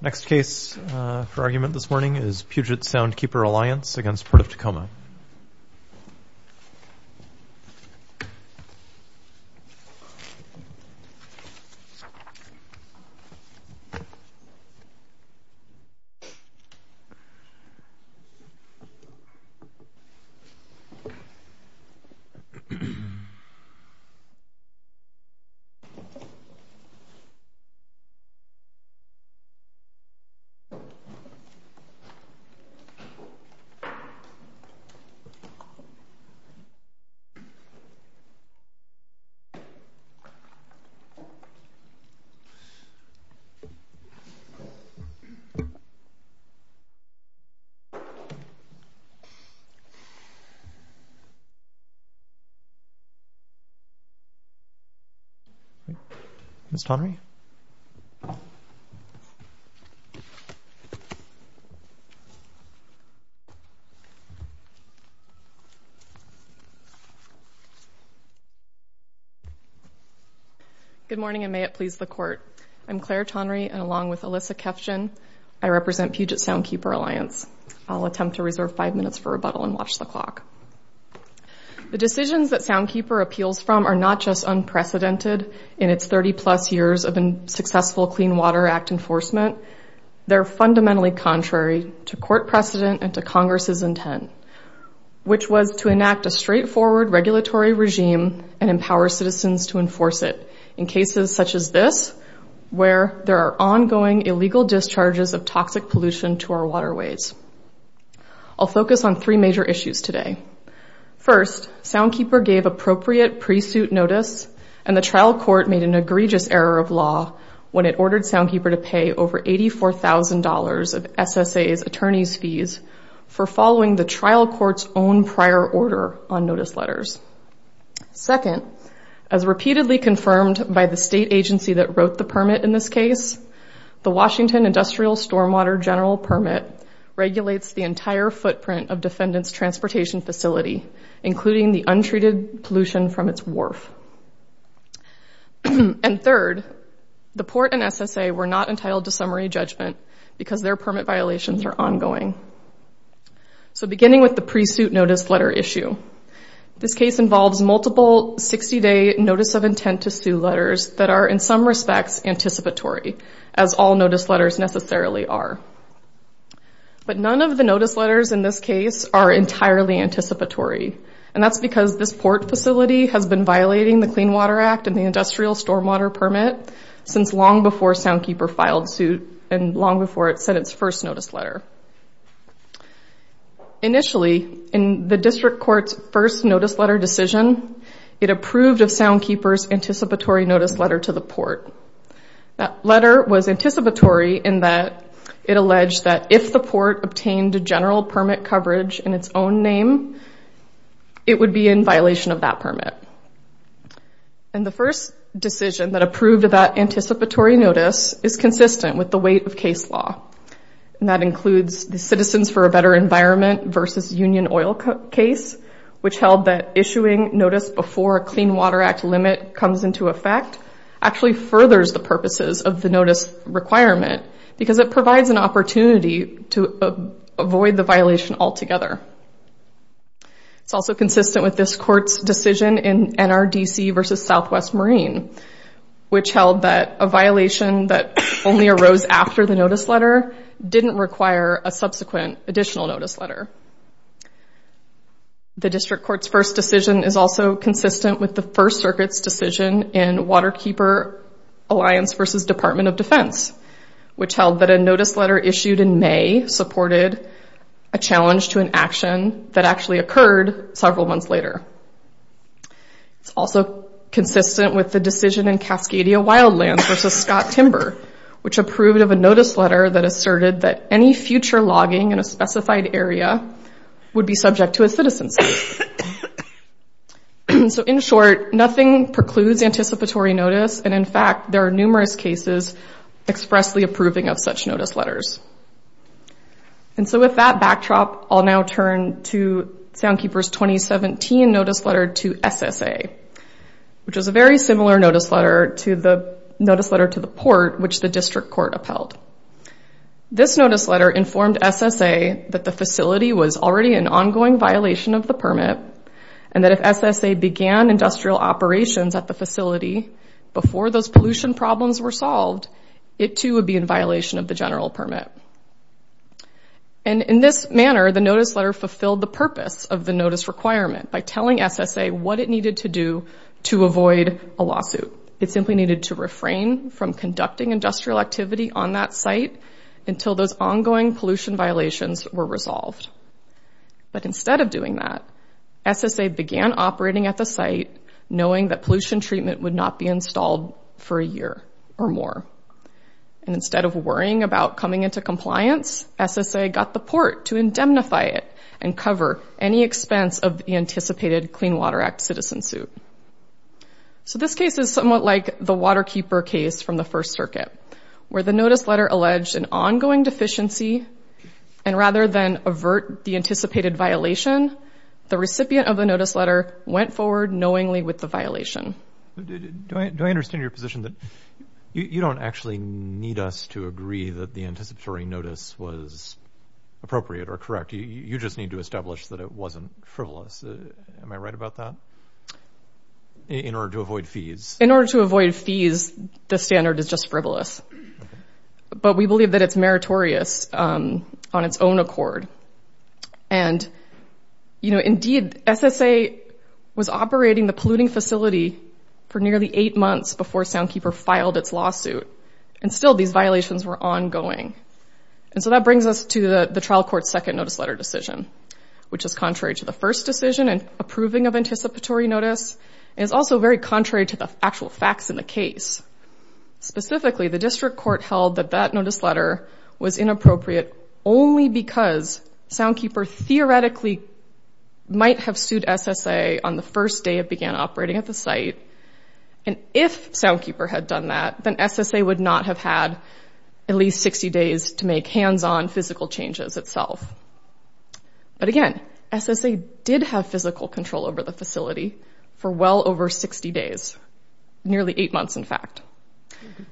Next case for argument this morning is Puget Sound Keeper Alliance v. Port of Tacoma Puget Sound Keeper Alliance v. Port of Tacoma Clare Tonry Good morning and may it please the Court. I'm Clare Tonry and along with Alyssa Kefjian, I represent Puget Sound Keeper Alliance. I'll attempt to reserve five minutes for rebuttal and watch the clock. The decisions that Sound Keeper appeals from are not just unprecedented in its 30-plus years of successful Clean Water Act enforcement. They're fundamentally contrary to court precedent and to Congress's intent, which was to enact a straightforward regulatory regime and empower citizens to enforce it in cases such as this where there are ongoing illegal discharges of toxic pollution to our waterways. I'll focus on three major issues today. First, Sound Keeper gave appropriate pre-suit notice and the trial court made an egregious error of law when it ordered Sound Keeper to pay over $84,000 of SSA's attorney's fees for following the trial court's own prior order on notice letters. Second, as repeatedly confirmed by the state agency that wrote the permit in this case, the Washington Industrial Stormwater General Permit regulates the entire footprint of defendants' transportation facility, including the untreated pollution from its wharf. And third, the port and SSA were not entitled to summary judgment because their permit violations are ongoing. So beginning with the pre-suit notice letter issue, this case involves multiple 60-day notice of intent to sue letters that are in some respects anticipatory, as all notice letters necessarily are. But none of the notice letters in this case are entirely anticipatory, and that's because this port facility has been violating the Clean Water Act and the Industrial Stormwater Permit since long before Sound Keeper filed suit and long before it sent its first notice letter. Initially, in the district court's first notice letter decision, it approved of Sound Keeper's anticipatory notice letter to the port. That letter was anticipatory in that it alleged that if the port obtained a general permit coverage in its own name, it would be in violation of that permit. And the first decision that approved of that anticipatory notice is consistent with the weight of case law, and that includes the Citizens for a Better Environment v. Union Oil case, which held that issuing notice before a Clean Water Act limit comes into effect actually furthers the purposes of the notice requirement because it provides an opportunity to avoid the violation altogether. It's also consistent with this court's decision in NRDC v. Southwest Marine, which held that a violation that only arose after the notice letter didn't require a subsequent additional notice letter. The district court's first decision is also consistent with the First Circuit's decision in Waterkeeper Alliance v. Department of Defense, which held that a notice letter issued in May supported a challenge to an action that actually occurred several months later. It's also consistent with the decision in Cascadia Wildlands v. Scott Timber, which approved of a notice letter that asserted that any future logging in a specified area would be subject to a citizenship. So in short, nothing precludes anticipatory notice, and in fact, there are numerous cases expressly approving of such notice letters. And so with that backdrop, I'll now turn to SoundKeeper's 2017 notice letter to SSA, which was a very similar notice letter to the notice letter to the Port, which the district court upheld. This notice letter informed SSA that the facility was already in ongoing violation of the permit, and that if SSA began industrial operations at the facility before those pollution problems were solved, it too would be in violation of the general permit. And in this manner, the notice letter fulfilled the purpose of the notice requirement by telling SSA what it needed to do to avoid a lawsuit. It simply needed to refrain from conducting industrial activity on that site until those ongoing pollution violations were resolved. But instead of doing that, SSA began operating at the site knowing that pollution treatment would not be installed for a year or more. And instead of worrying about coming into compliance, SSA got the Port to indemnify it and cover any expense of the anticipated Clean Water Act citizen suit. So this case is somewhat like the Waterkeeper case from the First Circuit, where the notice letter alleged an ongoing deficiency, and rather than avert the anticipated violation, the recipient of the notice letter went forward knowingly with the violation. Do I understand your position that you don't actually need us to agree that the anticipatory notice was appropriate or correct? You just need to establish that it wasn't frivolous. Am I right about that? In order to avoid fees. In order to avoid fees, the standard is just frivolous. But we believe that it's meritorious on its own accord. And, you know, indeed, SSA was operating the polluting facility for nearly eight months before Soundkeeper filed its lawsuit. And still these violations were ongoing. And so that brings us to the trial court's second notice letter decision, which is contrary to the first decision and approving of anticipatory notice. It is also very contrary to the actual facts in the case. Specifically, the district court held that that notice letter was inappropriate only because Soundkeeper theoretically might have sued SSA on the first day it began operating at the site. And if Soundkeeper had done that, then SSA would not have had at least 60 days to make hands-on physical changes itself. But, again, SSA did have physical control over the facility for well over 60 days, nearly eight months, in fact,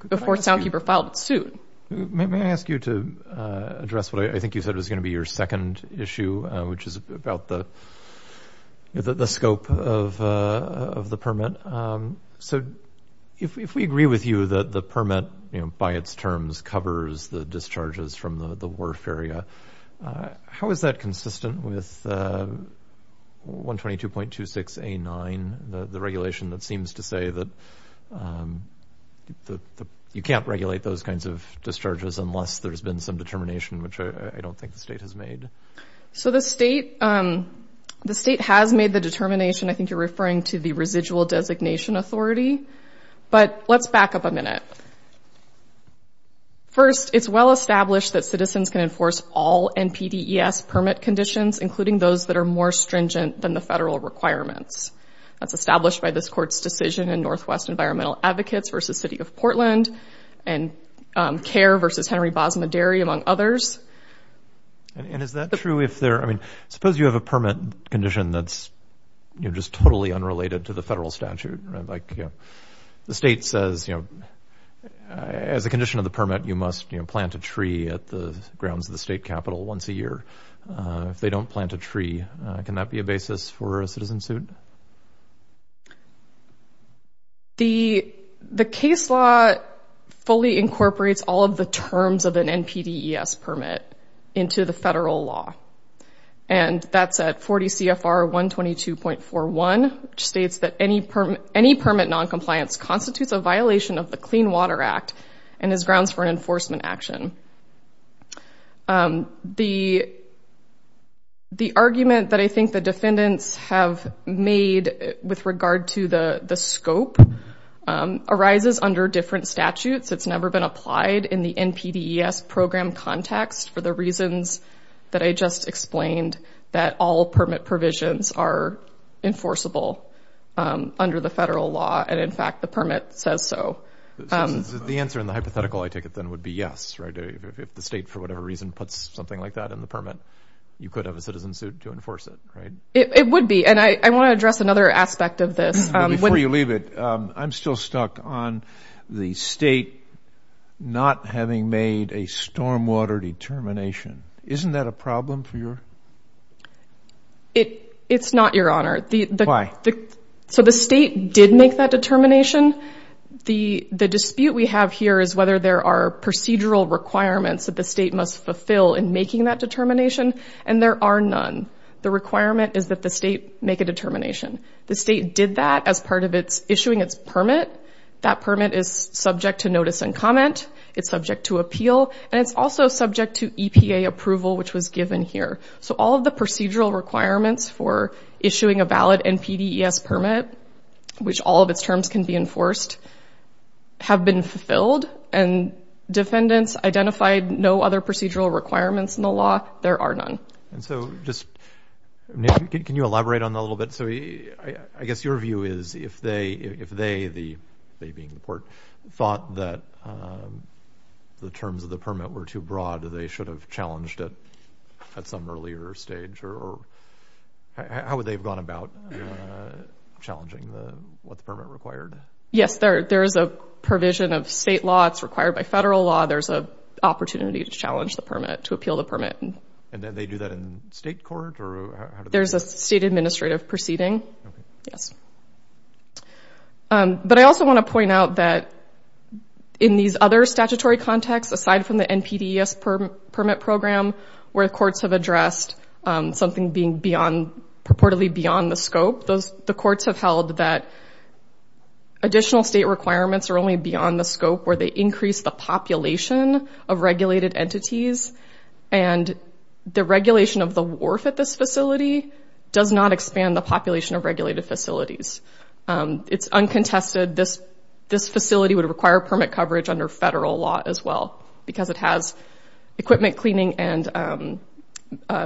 before Soundkeeper filed its suit. May I ask you to address what I think you said was going to be your second issue, which is about the scope of the permit? So if we agree with you that the permit, by its terms, covers the discharges from the wharf area, how is that consistent with 122.26A9, the regulation that seems to say that you can't regulate those kinds of discharges unless there's been some determination, which I don't think the state has made? So the state has made the determination. I think you're referring to the residual designation authority. But let's back up a minute. First, it's well established that citizens can enforce all NPDES permit conditions, including those that are more stringent than the federal requirements. That's established by this court's decision in Northwest Environmental Advocates v. City of Portland and CARE v. Henry Bosma Dairy, among others. And is that true if they're – I mean, suppose you have a permit condition that's just totally unrelated to the federal statute, like the state says, you know, as a condition of the permit, you must plant a tree at the grounds of the state capitol once a year. If they don't plant a tree, can that be a basis for a citizen suit? The case law fully incorporates all of the terms of an NPDES permit into the federal law. And that's at 40 CFR 122.41, which states that any permit noncompliance constitutes a violation of the Clean Water Act and is grounds for enforcement action. The argument that I think the defendants have made with regard to the scope arises under different statutes. It's never been applied in the NPDES program context for the reasons that I just explained, that all permit provisions are enforceable under the federal law. And, in fact, the permit says so. So the answer in the hypothetical, I take it then, would be yes, right? If the state, for whatever reason, puts something like that in the permit, you could have a citizen suit to enforce it, right? It would be. And I want to address another aspect of this. Before you leave it, I'm still stuck on the state not having made a stormwater determination. Isn't that a problem for your – It's not, Your Honor. Why? So the state did make that determination. The dispute we have here is whether there are procedural requirements that the state must fulfill in making that determination. And there are none. The requirement is that the state make a determination. The state did that as part of its issuing its permit. That permit is subject to notice and comment. It's subject to appeal. And it's also subject to EPA approval, which was given here. So all of the procedural requirements for issuing a valid NPDES permit, which all of its terms can be enforced, have been fulfilled. And defendants identified no other procedural requirements in the law. There are none. And so just – can you elaborate on that a little bit? So I guess your view is if they – if they, the – they being the court – thought that the terms of the permit were too broad, they should have challenged it at some earlier stage or – how would they have gone about challenging the – what the permit required? Yes. There is a provision of state law. It's required by federal law. There's an opportunity to challenge the permit, to appeal the permit. And then they do that in state court or how do they – There's a state administrative proceeding. Okay. Yes. But I also want to point out that in these other statutory contexts, aside from the NPDES permit program, where courts have addressed something being beyond – purportedly beyond the scope, the courts have held that additional state requirements are only beyond the scope where they increase the population of regulated entities. And the regulation of the wharf at this facility does not expand the population of regulated facilities. It's uncontested. This facility would require permit coverage under federal law as well because it has equipment cleaning and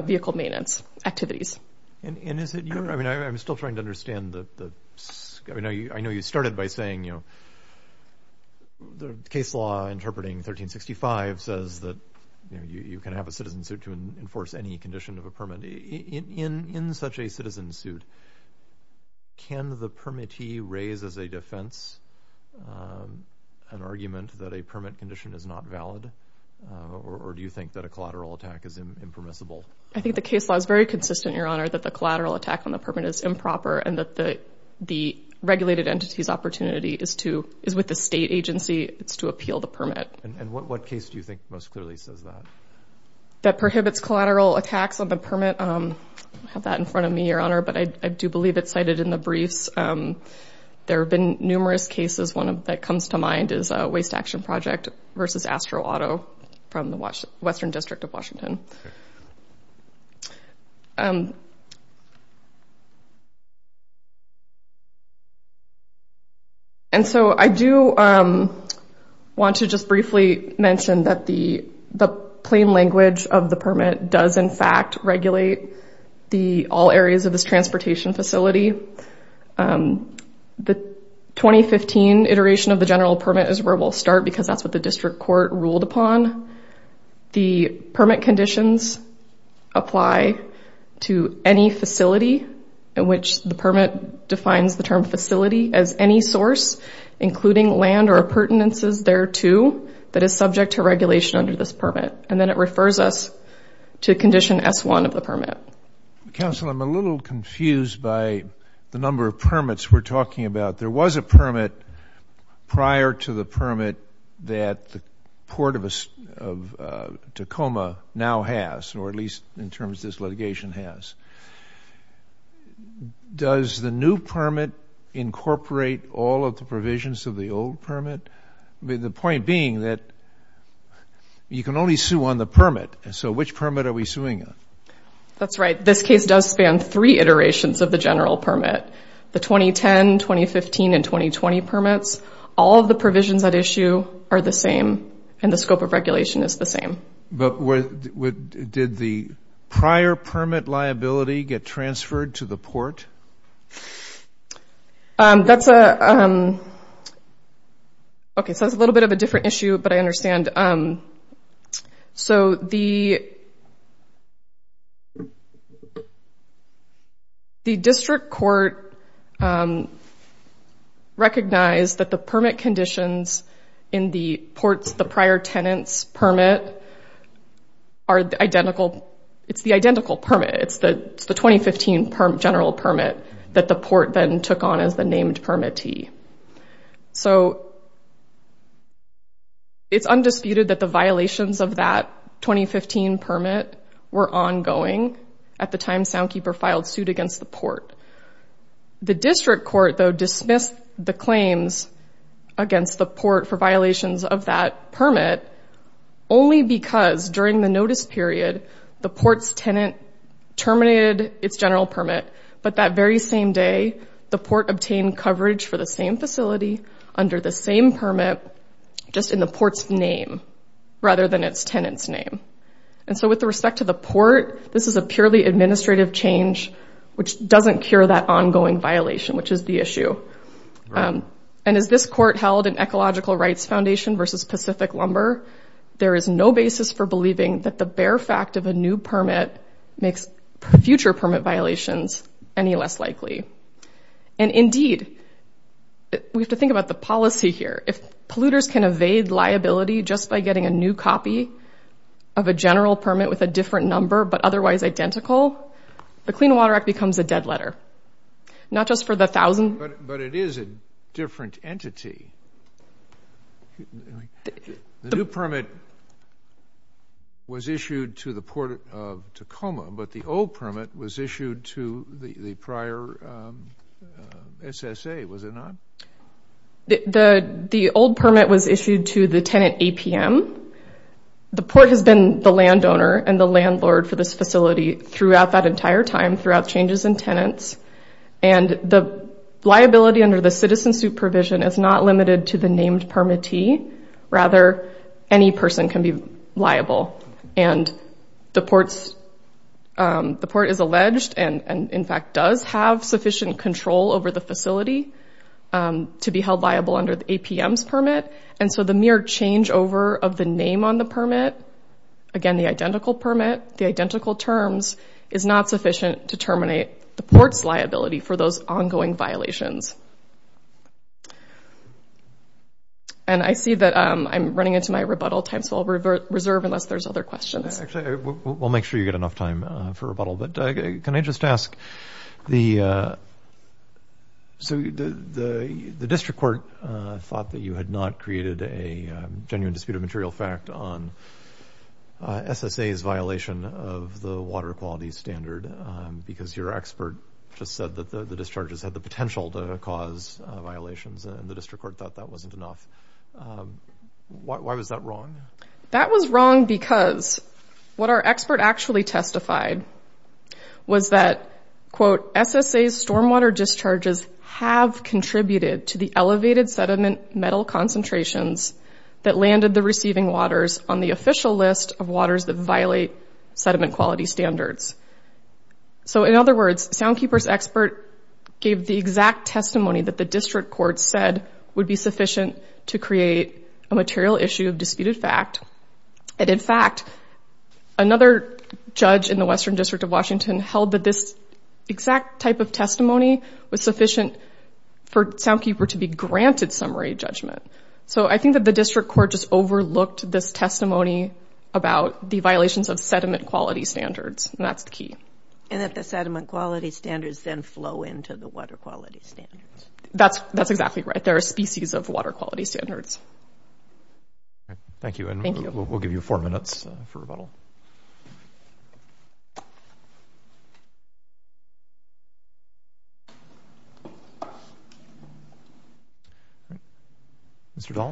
vehicle maintenance activities. And is it – I mean, I'm still trying to understand the – I know you started by saying, you know, the case law interpreting 1365 says that, you know, you can have a citizen suit to enforce any condition of a permit. In such a citizen suit, can the permittee raise as a defense an argument that a permit condition is not valid? Or do you think that a collateral attack is impermissible? I think the case law is very consistent, Your Honor, that the collateral attack on the permit is improper and that the regulated entity's opportunity is to – is with the state agency. It's to appeal the permit. And what case do you think most clearly says that? That prohibits collateral attacks on the permit. I have that in front of me, Your Honor, but I do believe it's cited in the briefs. There have been numerous cases. One that comes to mind is Waste Action Project versus Astro Auto from the Western District of Washington. And so I do want to just briefly mention that the plain language of the permit does, in fact, regulate all areas of this transportation facility. The 2015 iteration of the general permit is where we'll start because that's what the district court ruled upon. The permit conditions apply to any facility in which the permit defines the term facility as any source, including land or appurtenances thereto, that is subject to regulation under this permit. And then it refers us to condition S-1 of the permit. Counsel, I'm a little confused by the number of permits we're talking about. There was a permit prior to the permit that the Port of Tacoma now has, or at least in terms this litigation has. Does the new permit incorporate all of the provisions of the old permit? The point being that you can only sue on the permit. So which permit are we suing on? That's right. This case does span three iterations of the general permit, the 2010, 2015, and 2020 permits. All of the provisions at issue are the same, and the scope of regulation is the same. But did the prior permit liability get transferred to the port? That's a little bit of a different issue, but I understand. So the district court recognized that the permit conditions in the port's prior tenant's permit are identical. It's the identical permit. It's the 2015 general permit that the port then took on as the named permittee. So it's undisputed that the violations of that 2015 permit were ongoing at the time Soundkeeper filed suit against the port. The district court, though, dismissed the claims against the port for violations of that permit only because during the notice period the port's tenant terminated its general permit, but that very same day the port obtained coverage for the same facility under the same permit, just in the port's name rather than its tenant's name. And so with respect to the port, this is a purely administrative change which doesn't cure that ongoing violation, which is the issue. And as this court held in Ecological Rights Foundation v. Pacific Lumber, there is no basis for believing that the bare fact of a new permit makes future permit violations any less likely. And indeed, we have to think about the policy here. If polluters can evade liability just by getting a new copy of a general permit with a different number but otherwise identical, the Clean Water Act becomes a dead letter, not just for the thousand. But it is a different entity. The new permit was issued to the Port of Tacoma, but the old permit was issued to the prior SSA, was it not? The old permit was issued to the tenant APM. The port has been the landowner and the landlord for this facility throughout that entire time, throughout changes in tenants. And the liability under the citizen supervision is not limited to the named permittee. Rather, any person can be liable. And the port is alleged and, in fact, does have sufficient control over the facility to be held liable under the APM's permit. And so the mere changeover of the name on the permit, again, the identical permit, the identical terms, is not sufficient to terminate the port's liability for those ongoing violations. And I see that I'm running into my rebuttal time, so I'll reserve unless there's other questions. Actually, we'll make sure you get enough time for rebuttal. But can I just ask, the district court thought that you had not created a genuine dispute of material fact on SSA's violation of the water quality standard because your expert just said that the discharges had the potential to cause violations, and the district court thought that wasn't enough. Why was that wrong? That was wrong because what our expert actually testified was that, quote, SSA's stormwater discharges have contributed to the elevated sediment metal concentrations that landed the receiving waters on the official list of waters that violate sediment quality standards. So, in other words, Soundkeeper's expert gave the exact testimony that the district court said would be sufficient to create a material issue of disputed fact. And, in fact, another judge in the Western District of Washington held that this exact type of testimony was sufficient for Soundkeeper to be granted summary judgment. So I think that the district court just overlooked this testimony about the violations of sediment quality standards, and that's the key. And that the sediment quality standards then flow into the water quality standards. That's exactly right. There are species of water quality standards. Thank you, and we'll give you four minutes for rebuttal. Mr. Dahl.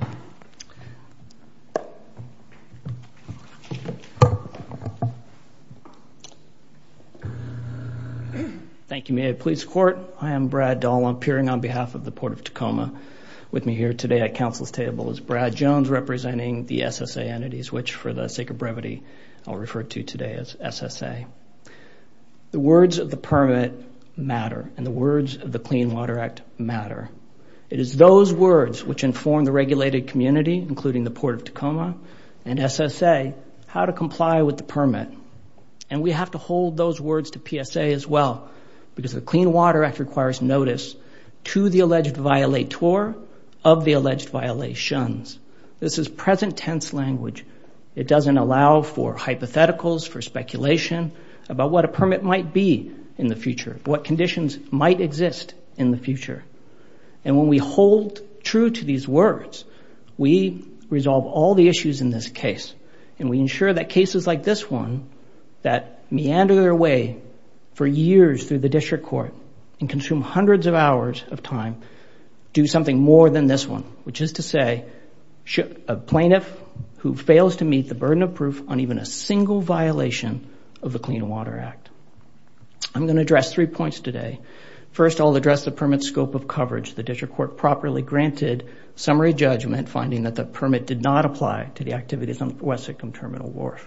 Thank you. May I please court? I am Brad Dahl. I'm appearing on behalf of the Port of Tacoma. With me here today at council's table is Brad Jones, representing the SSA entities, which, for the sake of brevity, I'll refer to today as SSA. The words of the permit matter, and the words of the Clean Water Act matter. It is those words which inform the regulated community, including the Port of Tacoma and SSA, how to comply with the permit. And we have to hold those words to PSA as well, because the Clean Water Act requires notice to the alleged violator of the alleged violations. This is present tense language. It doesn't allow for hypotheticals, for speculation, about what a permit might be in the future, what conditions might exist in the future. And when we hold true to these words, we resolve all the issues in this case, and we ensure that cases like this one that meander their way for years through the district court and consume hundreds of hours of time do something more than this one, which is to say a plaintiff who fails to meet the burden of proof on even a single violation of the Clean Water Act. I'm going to address three points today. First, I'll address the permit's scope of coverage, the district court properly granted summary judgment finding that the permit did not apply to the activities on West Sycombe Terminal Wharf.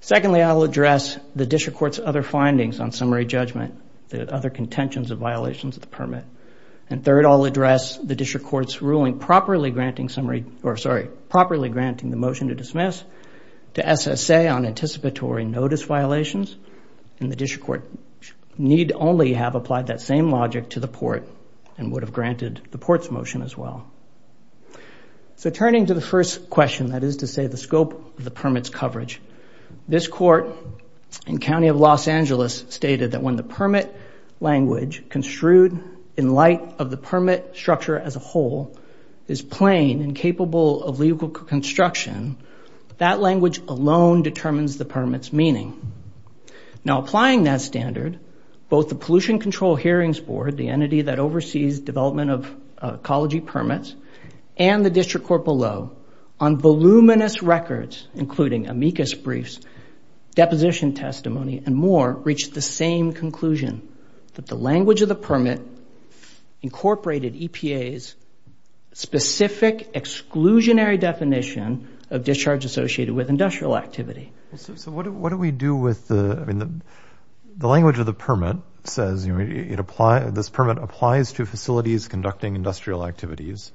Secondly, I'll address the district court's other findings on summary judgment, the other contentions of violations of the permit. And third, I'll address the district court's ruling properly granting the motion to dismiss to SSA on anticipatory notice violations, and the district court need only have applied that same logic to the port and would have granted the port's motion as well. So turning to the first question, that is to say the scope of the permit's coverage, this court in County of Los Angeles stated that when the permit language construed in light of the permit structure as a whole is plain and capable of legal construction, that language alone determines the permit's meaning. Now applying that standard, both the Pollution Control Hearings Board, the entity that oversees development of ecology permits, and the district court below on voluminous records, including amicus briefs, deposition testimony, and more reached the same conclusion, that the language of the permit incorporated EPA's specific exclusionary definition of discharge associated with industrial activity. So what do we do with the – I mean, the language of the permit says, you know, this permit applies to facilities conducting industrial activities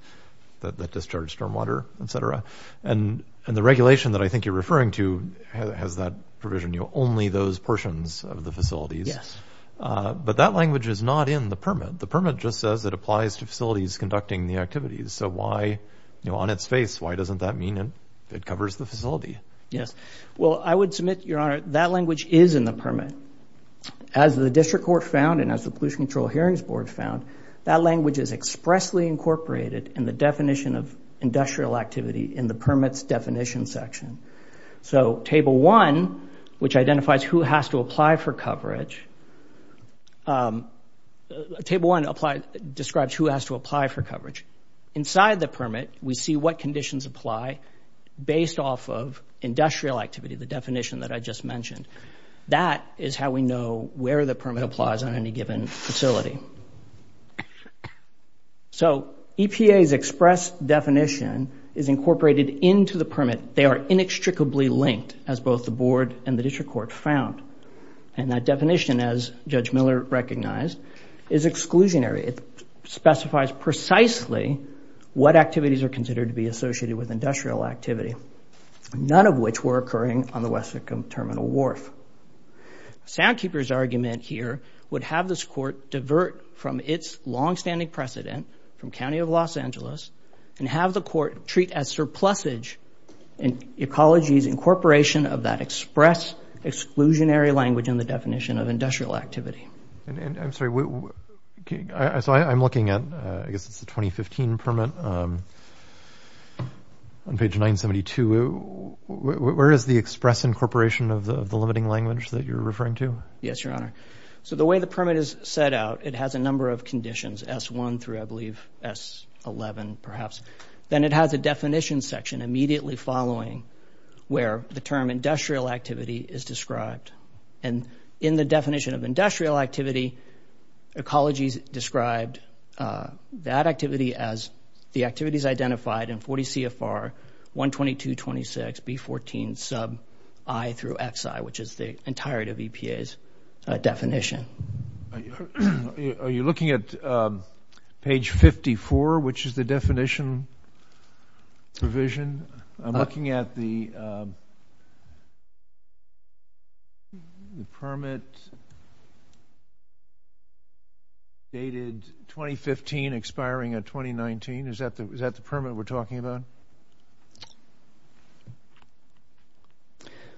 that discharge stormwater, et cetera. And the regulation that I think you're referring to has that provision, you know, only those portions of the facilities. Yes. But that language is not in the permit. The permit just says it applies to facilities conducting the activities. So why, you know, on its face, why doesn't that mean it covers the facility? Yes. Well, I would submit, Your Honor, that language is in the permit. As the district court found and as the Pollution Control Hearings Board found, that language is expressly incorporated in the definition of industrial activity in the permit's definition section. So Table 1, which identifies who has to apply for coverage – Table 1 describes who has to apply for coverage. Inside the permit, we see what conditions apply based off of industrial activity, the definition that I just mentioned. That is how we know where the permit applies on any given facility. So EPA's express definition is incorporated into the permit. They are inextricably linked, as both the board and the district court found. And that definition, as Judge Miller recognized, is exclusionary. It specifies precisely what activities are considered to be associated with industrial activity, none of which were occurring on the Wessex Terminal Wharf. Soundkeeper's argument here would have this court divert from its longstanding precedent from County of Los Angeles and have the court treat as surplusage ecology's incorporation of that express, exclusionary language in the definition of industrial activity. And I'm sorry, so I'm looking at – I guess it's the 2015 permit on page 972. Where is the express incorporation of the limiting language that you're referring to? Yes, Your Honor. So the way the permit is set out, it has a number of conditions – S-1 through, I believe, S-11, perhaps. Then it has a definition section immediately following where the term industrial activity is described. And in the definition of industrial activity, ecologies described that activity as the activities identified in 40 CFR 122.26B14 sub I through XI, which is the entirety of EPA's definition. Are you looking at page 54, which is the definition provision? I'm looking at the permit dated 2015 expiring in 2019. Is that the permit we're talking about?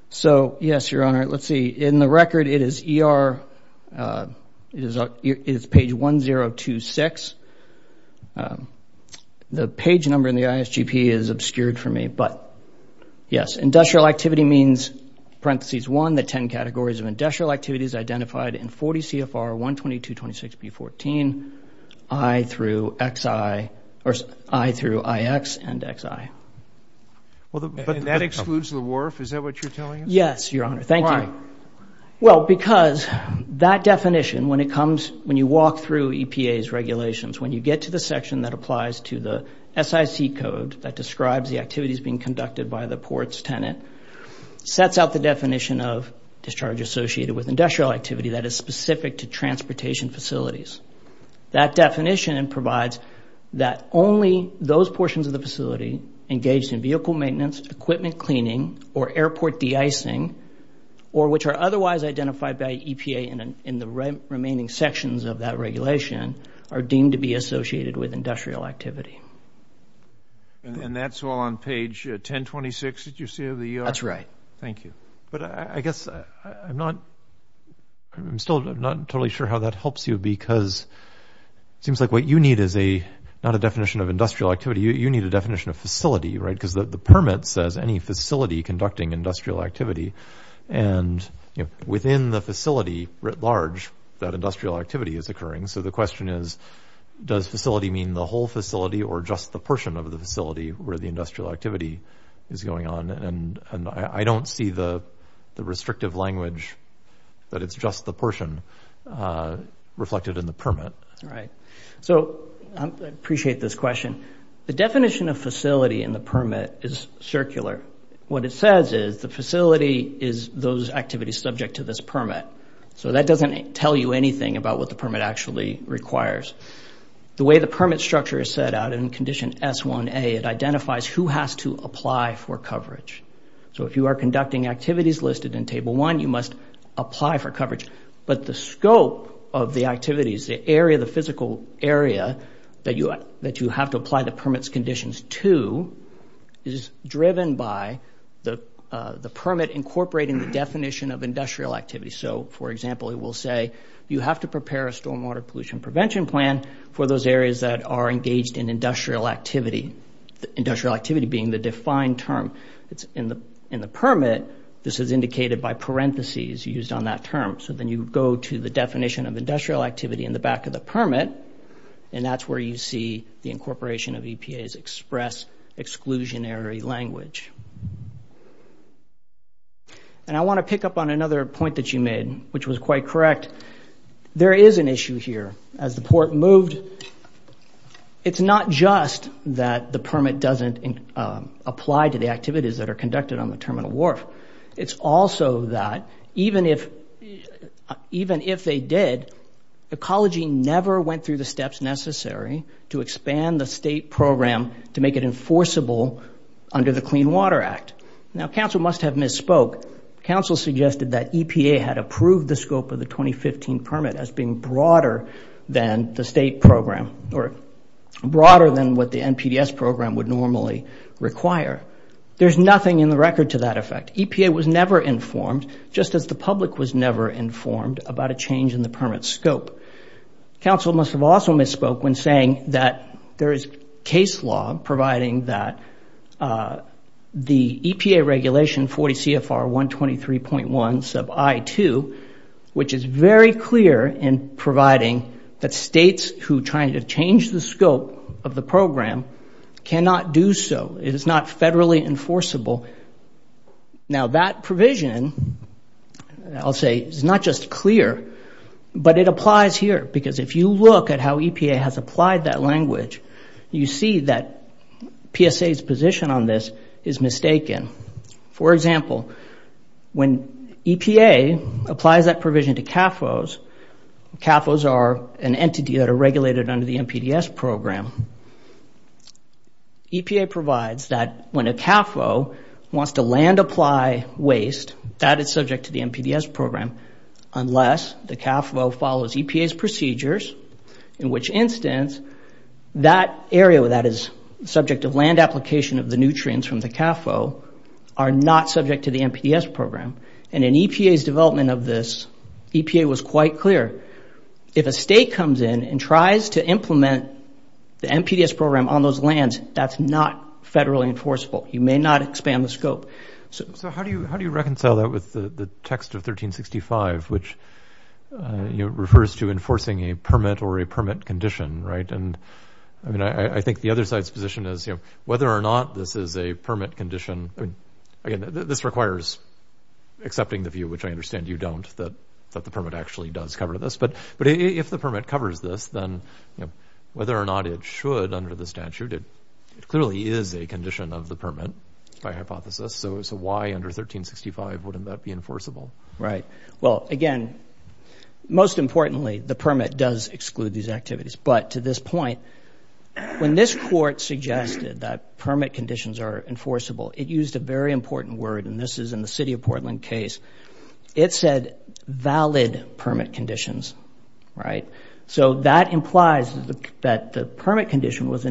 So, yes, Your Honor. All right, let's see. In the record, it is ER – it is page 1026. The page number in the ISGP is obscured for me. But, yes, industrial activity means parentheses 1, the 10 categories of industrial activities identified in 40 CFR 122.26B14, I through XI – or I through IX and XI. And that excludes the WRF? Is that what you're telling us? Yes, Your Honor. Thank you. Why? Well, because that definition, when it comes – when you walk through EPA's regulations, when you get to the section that applies to the SIC code that describes the activities being conducted by the ports tenant, sets out the definition of discharge associated with industrial activity That definition provides that only those portions of the facility engaged in vehicle maintenance, equipment cleaning, or airport de-icing, or which are otherwise identified by EPA in the remaining sections of that regulation are deemed to be associated with industrial activity. And that's all on page 1026 that you see of the ER? That's right. Thank you. But I guess I'm not – I'm still not totally sure how that helps you because it seems like what you need is a – not a definition of industrial activity. You need a definition of facility, right? Because the permit says any facility conducting industrial activity. And within the facility writ large, that industrial activity is occurring. So the question is, does facility mean the whole facility or just the portion of the facility where the industrial activity is going on? And I don't see the restrictive language that it's just the portion reflected in the permit. All right. So I appreciate this question. The definition of facility in the permit is circular. What it says is the facility is those activities subject to this permit. So that doesn't tell you anything about what the permit actually requires. The way the permit structure is set out in Condition S-1A, it identifies who has to apply for coverage. So if you are conducting activities listed in Table 1, you must apply for coverage. But the scope of the activities, the area – the physical area that you have to apply the permit's conditions to is driven by the permit incorporating the definition of industrial activity. So, for example, it will say, you have to prepare a stormwater pollution prevention plan for those areas that are engaged in industrial activity, industrial activity being the defined term. In the permit, this is indicated by parentheses used on that term. So then you go to the definition of industrial activity in the back of the permit, and that's where you see the incorporation of EPA's express exclusionary language. And I want to pick up on another point that you made, which was quite correct. There is an issue here. As the port moved, it's not just that the permit doesn't apply to the activities that are conducted on the terminal wharf. It's also that even if they did, ecology never went through the steps necessary to expand the state program to make it enforceable under the Clean Water Act. Now, council must have misspoke. Council suggested that EPA had approved the scope of the 2015 permit as being broader than the state program or broader than what the NPDES program would normally require. There's nothing in the record to that effect. EPA was never informed, just as the public was never informed, about a change in the permit scope. Council must have also misspoke when saying that there is case law providing that the EPA regulation 40 CFR 123.1 sub I-2, which is very clear in providing that states who are trying to change the scope of the program cannot do so. It is not federally enforceable. Now, that provision, I'll say, is not just clear, but it applies here because if you look at how EPA has applied that language, you see that PSA's position on this is mistaken. For example, when EPA applies that provision to CAFOs, CAFOs are an entity that are regulated under the NPDES program. EPA provides that when a CAFO wants to land-apply waste, that is subject to the NPDES program, unless the CAFO follows EPA's procedures, in which instance, that area that is subject to land application of the nutrients from the CAFO are not subject to the NPDES program. In EPA's development of this, EPA was quite clear. If a state comes in and tries to implement the NPDES program on those lands, that's not federally enforceable. You may not expand the scope. So how do you reconcile that with the text of 1365, which refers to enforcing a permit or a permit condition, right? And, I mean, I think the other side's position is, you know, whether or not this is a permit condition. Again, this requires accepting the view, which I understand you don't, that the permit actually does cover this. But if the permit covers this, then, you know, whether or not it should under the statute, it clearly is a condition of the permit by hypothesis. So why under 1365 wouldn't that be enforceable? Right. Well, again, most importantly, the permit does exclude these activities. But to this point, when this court suggested that permit conditions are enforceable, it used a very important word, and this is in the City of Portland case. It said valid permit conditions, right? So that implies that the permit condition was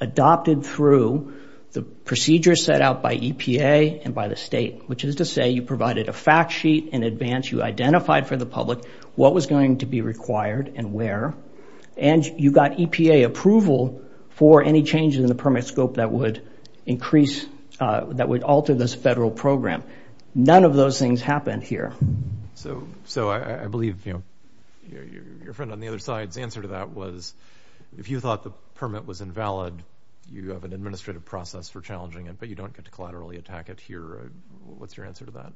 adopted through the procedure set out by EPA and by the state, which is to say you provided a fact sheet in advance, you identified for the public what was going to be required and where, and you got EPA approval for any changes in the permit scope that would increase, that would alter this federal program. None of those things happened here. So I believe, you know, your friend on the other side's answer to that was if you thought the permit was invalid, you have an administrative process for challenging it, but you don't get to collaterally attack it here. What's your answer to that?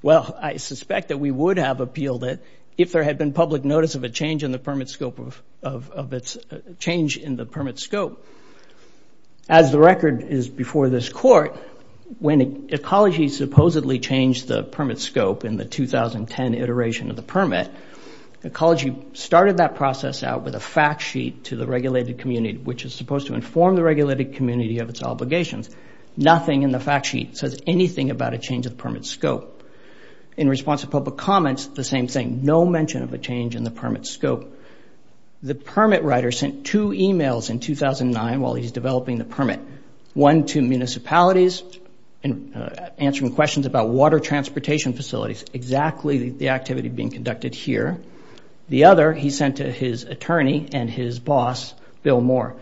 Well, I suspect that we would have appealed it if there had been public notice of a change in the permit scope of – of its – change in the permit scope. As the record is before this court, when Ecology supposedly changed the permit scope in the 2010 iteration of the permit, Ecology started that process out with a fact sheet to the regulated community, which is supposed to inform the regulated community of its obligations. Nothing in the fact sheet says anything about a change of permit scope. In response to public comments, the same thing, no mention of a change in the permit scope. The permit writer sent two emails in 2009 while he was developing the permit, one to municipalities answering questions about water transportation facilities, exactly the activity being conducted here. The other he sent to his attorney and his boss, Bill Moore.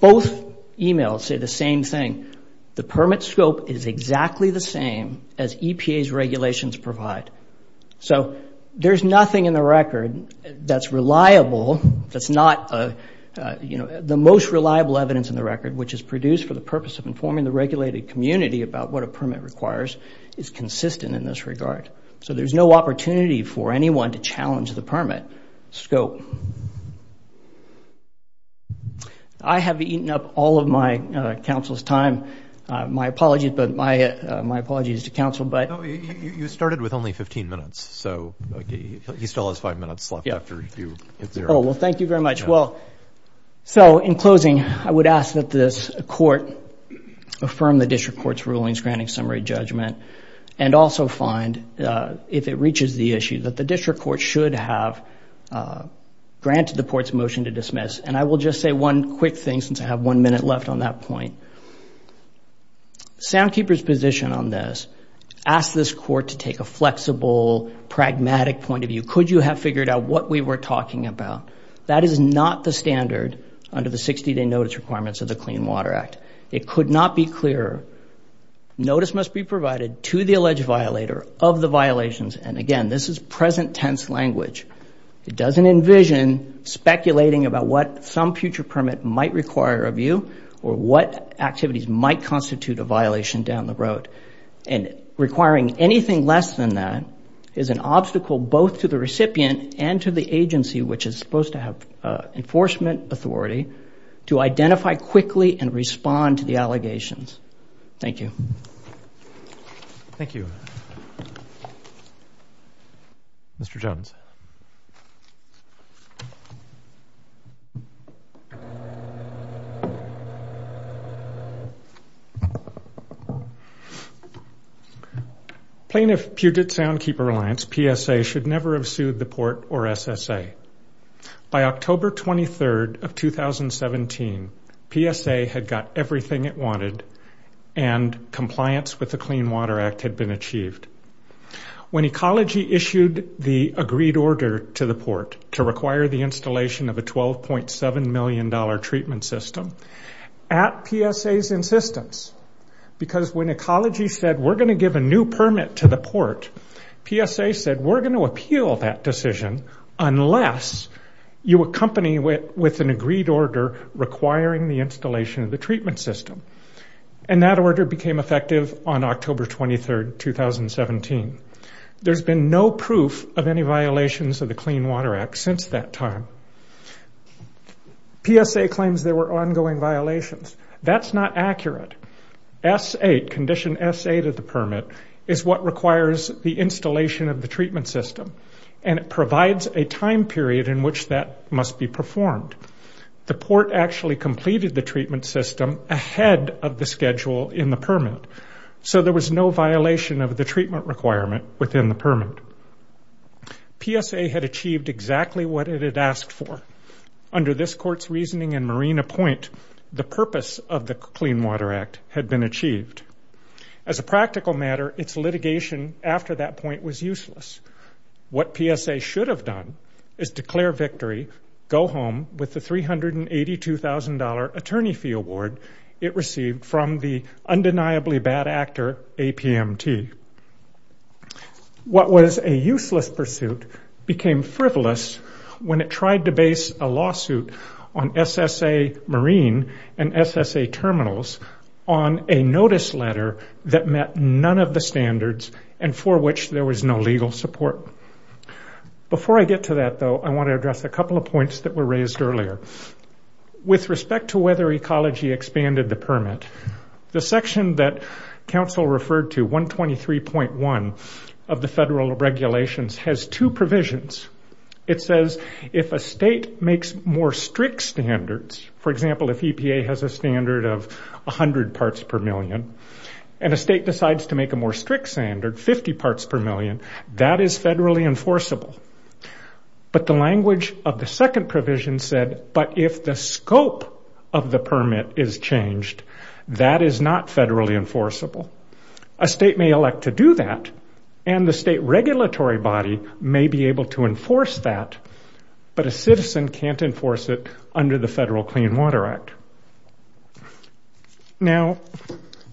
Both emails say the same thing. The permit scope is exactly the same as EPA's regulations provide. So there's nothing in the record that's reliable, that's not, you know, the most reliable evidence in the record which is produced for the purpose of informing the regulated community about what a permit requires is consistent in this regard. So there's no opportunity for anyone to challenge the permit scope. I have eaten up all of my counsel's time. My apologies, but – my apologies to counsel, but – No, you started with only 15 minutes, so he still has five minutes left after you hit zero. Oh, well, thank you very much. Well, so in closing, I would ask that this court affirm the district court's rulings granting summary judgment and also find, if it reaches the issue, that the district court should have granted the court's motion to dismiss. And I will just say one quick thing since I have one minute left on that point. Soundkeeper's position on this asks this court to take a flexible, pragmatic point of view. Could you have figured out what we were talking about? That is not the standard under the 60-day notice requirements of the Clean Water Act. It could not be clearer. Notice must be provided to the alleged violator of the violations. And, again, this is present tense language. It doesn't envision speculating about what some future permit might require of you or what activities might constitute a violation down the road. And requiring anything less than that is an obstacle both to the recipient and to the agency, which is supposed to have enforcement authority, to identify quickly and respond to the allegations. Thank you. Thank you. Mr. Jones. Thank you. Plaintiff Puget Soundkeeper Reliance, PSA, should never have sued the port or SSA. By October 23rd of 2017, PSA had got everything it wanted and compliance with the Clean Water Act had been achieved. When Ecology issued the agreed order to the port to require the installation of a $12.7 million treatment system, at PSA's insistence, because when Ecology said, we're going to give a new permit to the port, PSA said, we're going to appeal that decision unless you accompany it with an agreed order requiring the installation of the treatment system. And that order became effective on October 23rd, 2017. There's been no proof of any violations of the Clean Water Act since that time. PSA claims there were ongoing violations. That's not accurate. Condition S8 of the permit is what requires the installation of the treatment system, and it provides a time period in which that must be performed. The port actually completed the treatment system ahead of the schedule in the permit, so there was no violation of the treatment requirement within the permit. PSA had achieved exactly what it had asked for. Under this court's reasoning and Marina Point, the purpose of the Clean Water Act had been achieved. As a practical matter, its litigation after that point was useless. What PSA should have done is declare victory, go home with the $382,000 attorney fee award it received from the undeniably bad actor APMT. What was a useless pursuit became frivolous when it tried to base a lawsuit on SSA Marine and SSA Terminals on a notice letter that met none of the standards and for which there was no legal support. Before I get to that, though, I want to address a couple of points that were raised earlier. With respect to whether ecology expanded the permit, the section that counsel referred to, 123.1 of the federal regulations, has two provisions. It says if a state makes more strict standards, for example, if EPA has a standard of 100 parts per million, and a state decides to make a more strict standard, 50 parts per million, that is federally enforceable. But the language of the second provision said, but if the scope of the permit is changed, that is not federally enforceable. A state may elect to do that, and the state regulatory body may be able to enforce that, but a citizen can't enforce it under the federal Clean Water Act. Now,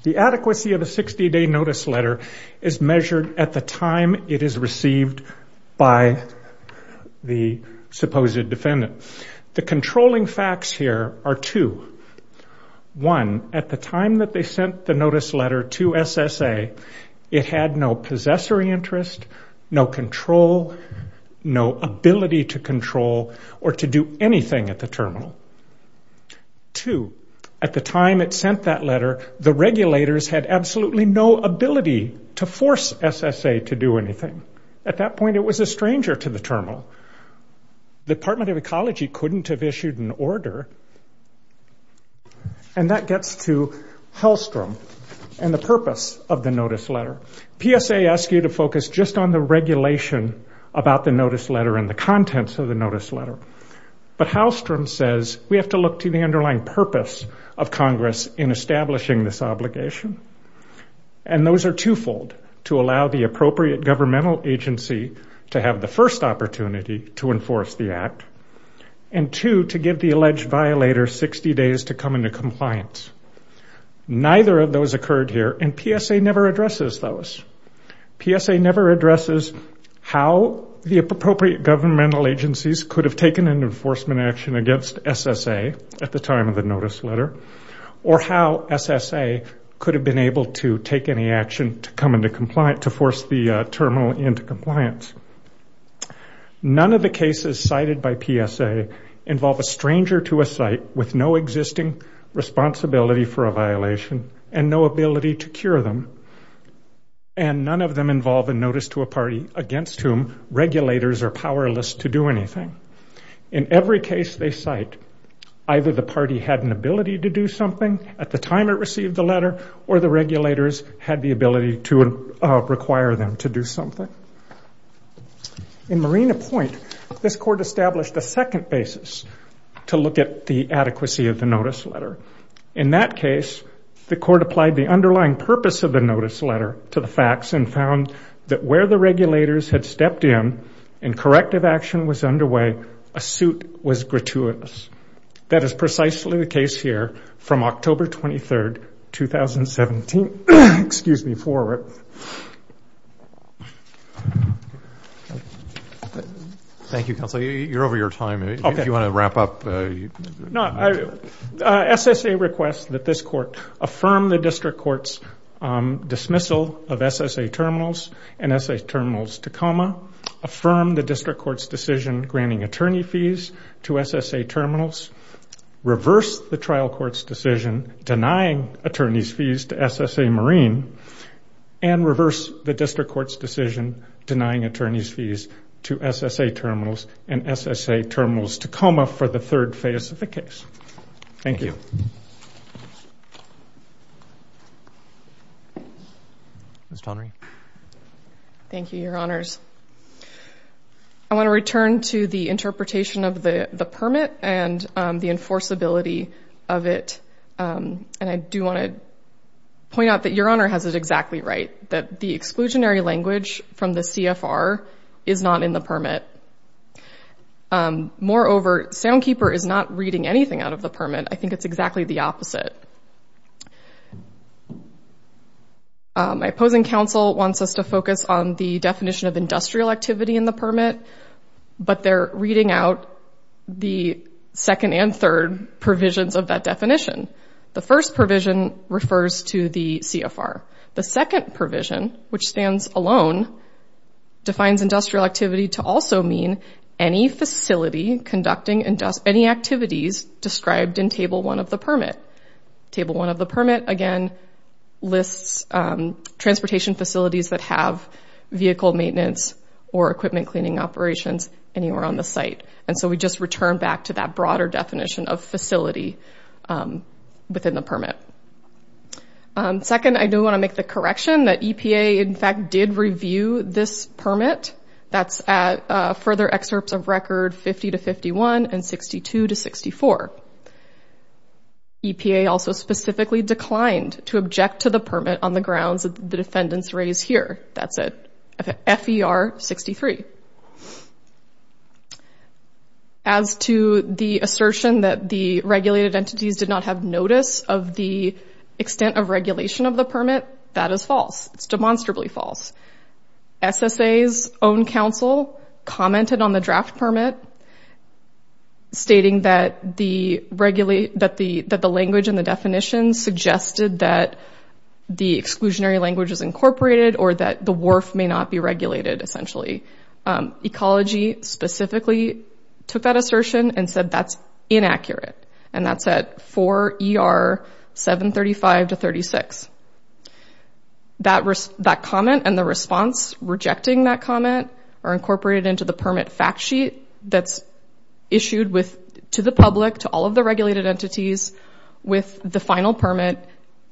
the adequacy of a 60-day notice letter is measured at the time it is received by the supposed defendant. The controlling facts here are two. One, at the time that they sent the notice letter to SSA, it had no possessory interest, no control, no ability to control or to do anything at the terminal. Two, at the time it sent that letter, the regulators had absolutely no ability to force SSA to do anything. At that point, it was a stranger to the terminal. The Department of Ecology couldn't have issued an order. And that gets to Hellstrom and the purpose of the notice letter. PSA asks you to focus just on the regulation about the notice letter and the contents of the notice letter, but Hellstrom says we have to look to the underlying purpose of Congress in establishing this obligation, and those are twofold, to allow the appropriate governmental agency to have the first opportunity to enforce the act, and two, to give the alleged violator 60 days to come into compliance. Neither of those occurred here, and PSA never addresses those. PSA never addresses how the appropriate governmental agencies could have taken an enforcement action against SSA at the time of the notice letter, or how SSA could have been able to take any action to force the terminal into compliance. None of the cases cited by PSA involve a stranger to a site with no existing responsibility for a violation and no ability to cure them, and none of them involve a notice to a party against whom regulators are powerless to do anything. In every case they cite, either the party had an ability to do something at the time it received the letter, or the regulators had the ability to require them to do something. In Marina Point, this court established a second basis to look at the adequacy of the notice letter. In that case, the court applied the underlying purpose of the notice letter to the facts and found that where the regulators had stepped in and corrective action was underway, a suit was gratuitous. That is precisely the case here from October 23, 2017. Excuse me for it. Thank you, counsel. You're over your time. If you want to wrap up. SSA requests that this court affirm the district court's dismissal of SSA terminals and SSA terminals to comma, affirm the district court's decision granting attorney fees to SSA terminals, reverse the trial court's decision denying attorney's fees to SSA Marine, SSA terminals to comma for the third phase of the case. Thank you. Ms. Tonry. Thank you, Your Honors. I want to return to the interpretation of the permit and the enforceability of it, and I do want to point out that Your Honor has it exactly right, that the exclusionary language from the CFR is not in the permit. Moreover, Soundkeeper is not reading anything out of the permit. I think it's exactly the opposite. My opposing counsel wants us to focus on the definition of industrial activity in the permit, but they're reading out the second and third provisions of that definition. The first provision refers to the CFR. The second provision, which stands alone, defines industrial activity to also mean any facility conducting any activities described in Table 1 of the permit. Table 1 of the permit, again, lists transportation facilities that have vehicle maintenance or equipment cleaning operations anywhere on the site, and so we just return back to that broader definition of facility within the permit. Second, I do want to make the correction that EPA, in fact, did review this permit. That's at further excerpts of Record 50-51 and 62-64. EPA also specifically declined to object to the permit on the grounds that the defendants raise here. That's at FER 63. As to the assertion that the regulated entities did not have notice of the extent of regulation of the permit, that is false. It's demonstrably false. SSA's own counsel commented on the draft permit, stating that the language and the definition suggested that the exclusionary language is incorporated or that the WRF may not be regulated, essentially. Ecology specifically took that assertion and said that's inaccurate, and that's at 4 ER 735-36. That comment and the response rejecting that comment are incorporated into the permit fact sheet that's issued to the public, to all of the regulated entities, with the final permit,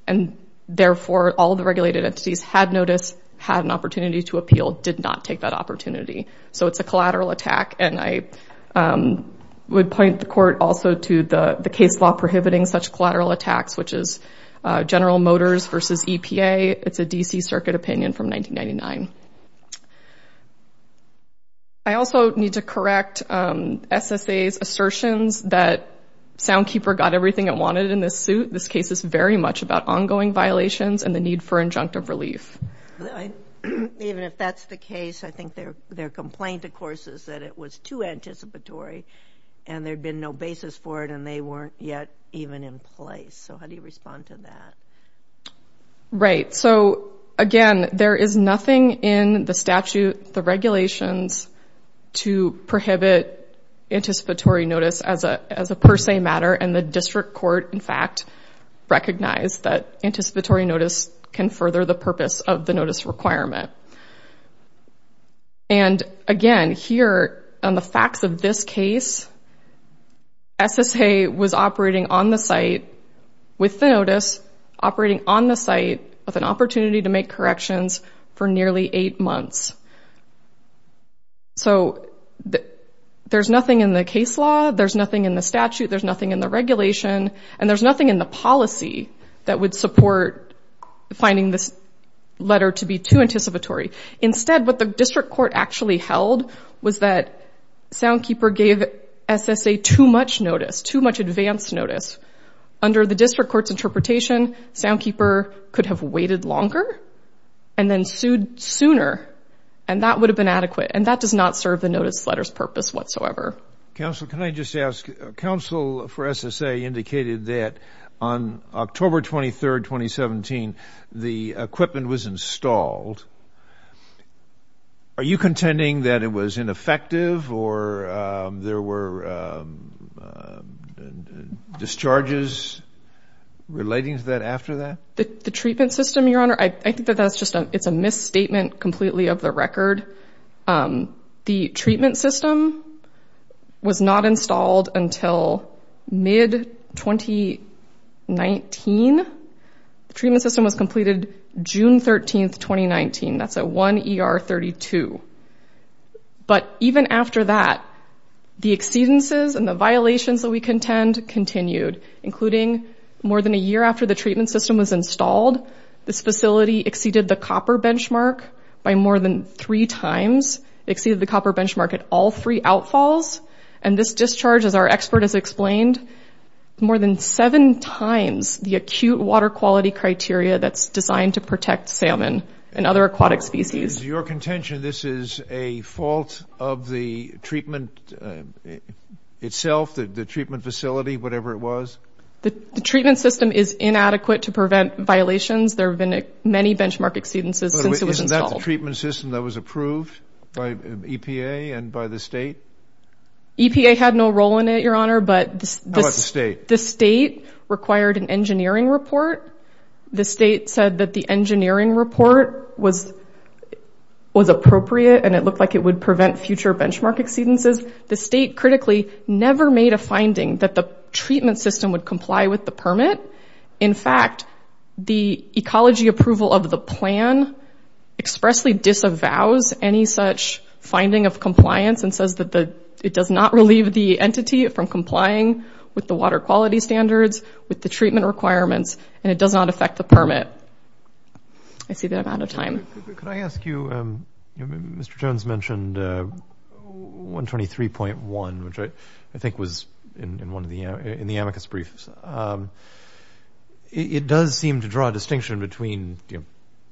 and therefore all of the regulated entities had notice, had an opportunity to appeal, did not take that opportunity. So it's a collateral attack, and I would point the court also to the case law prohibiting such collateral attacks, which is General Motors v. EPA. It's a D.C. Circuit opinion from 1999. I also need to correct SSA's assertions that Soundkeeper got everything it wanted in this suit. This case is very much about ongoing violations and the need for injunctive relief. Even if that's the case, I think their complaint, of course, is that it was too anticipatory and there'd been no basis for it and they weren't yet even in place. So how do you respond to that? Right, so again, there is nothing in the statute, the regulations to prohibit anticipatory notice as a per se matter, and the district court, in fact, recognized that anticipatory notice can further the purpose of the notice requirement. And again, here on the facts of this case, SSA was operating on the site with the notice, operating on the site with an opportunity to make corrections for nearly eight months. So there's nothing in the case law, there's nothing in the statute, there's nothing in the regulation, and there's nothing in the policy that would support finding this letter to be too anticipatory. Instead, what the district court actually held was that Soundkeeper gave SSA too much notice, too much advanced notice. Under the district court's interpretation, Soundkeeper could have waited longer and then sued sooner, and that would have been adequate, and that does not serve the notice letter's purpose whatsoever. Counsel, can I just ask, counsel for SSA indicated that on October 23, 2017, the equipment was installed. Are you contending that it was ineffective or there were discharges relating to that after that? The treatment system, Your Honor, I think that that's just a misstatement completely of the record. The treatment system was not installed until mid-2019. The treatment system was completed June 13, 2019. That's at 1 ER 32. But even after that, the exceedances and the violations that we contend continued, this facility exceeded the copper benchmark by more than three times, exceeded the copper benchmark at all three outfalls, and this discharge, as our expert has explained, more than seven times the acute water quality criteria that's designed to protect salmon and other aquatic species. Is your contention this is a fault of the treatment itself, the treatment facility, whatever it was? The treatment system is inadequate to prevent violations. There have been many benchmark exceedances since it was installed. Is that the treatment system that was approved by EPA and by the state? EPA had no role in it, Your Honor. How about the state? The state required an engineering report. The state said that the engineering report was appropriate and it looked like it would prevent future benchmark exceedances. The state critically never made a finding that the treatment system would comply with the permit. In fact, the ecology approval of the plan expressly disavows any such finding of compliance and says that it does not relieve the entity from complying with the water quality standards, with the treatment requirements, and it does not affect the permit. I see that I'm out of time. Could I ask you, Mr. Jones mentioned 123.1, which I think was in the amicus briefs. It does seem to draw a distinction between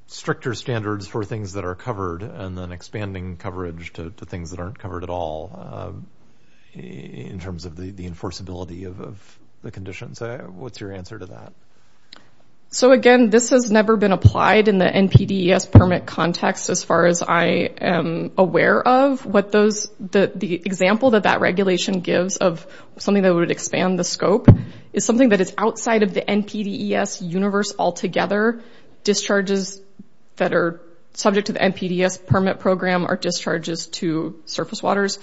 stricter standards for things that are covered and then expanding coverage to things that aren't covered at all in terms of the enforceability of the conditions. What's your answer to that? Again, this has never been applied in the NPDES permit context as far as I am aware of. The example that that regulation gives of something that would expand the scope is something that is outside of the NPDES universe altogether. Discharges that are subject to the NPDES permit program are discharges to surface waters.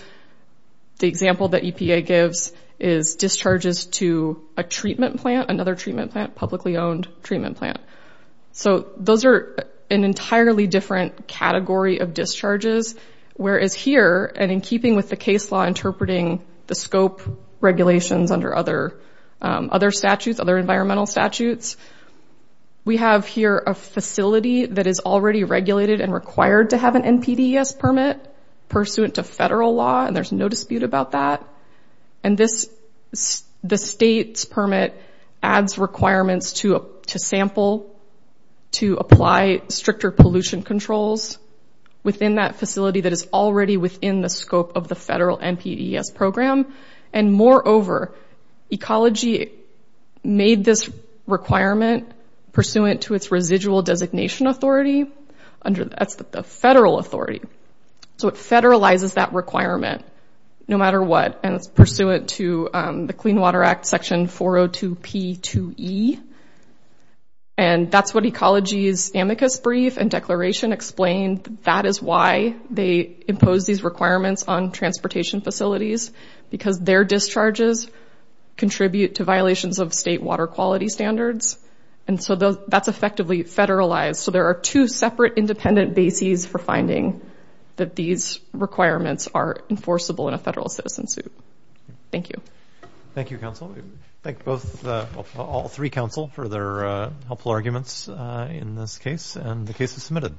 The example that EPA gives is discharges to a treatment plant, another treatment plant, publicly owned treatment plant. Those are an entirely different category of discharges, whereas here, and in keeping with the case law interpreting the scope regulations under other statutes, other environmental statutes, we have here a facility that is already regulated and required to have an NPDES permit pursuant to federal law, and there's no dispute about that. The state's permit adds requirements to sample to apply stricter pollution controls. within that facility that is already within the scope of the federal NPDES program, and moreover, Ecology made this requirement pursuant to its residual designation authority under – that's the federal authority. So it federalizes that requirement no matter what, and it's pursuant to the Clean Water Act Section 402P2E, and that's what Ecology's amicus brief and declaration explain that is why they impose these requirements on transportation facilities, because their discharges contribute to violations of state water quality standards, and so that's effectively federalized. So there are two separate independent bases for finding that these requirements are enforceable in a federal citizen suit. Thank you. Thank you, counsel. Thank both – all three counsel for their helpful arguments in this case, and the case is submitted.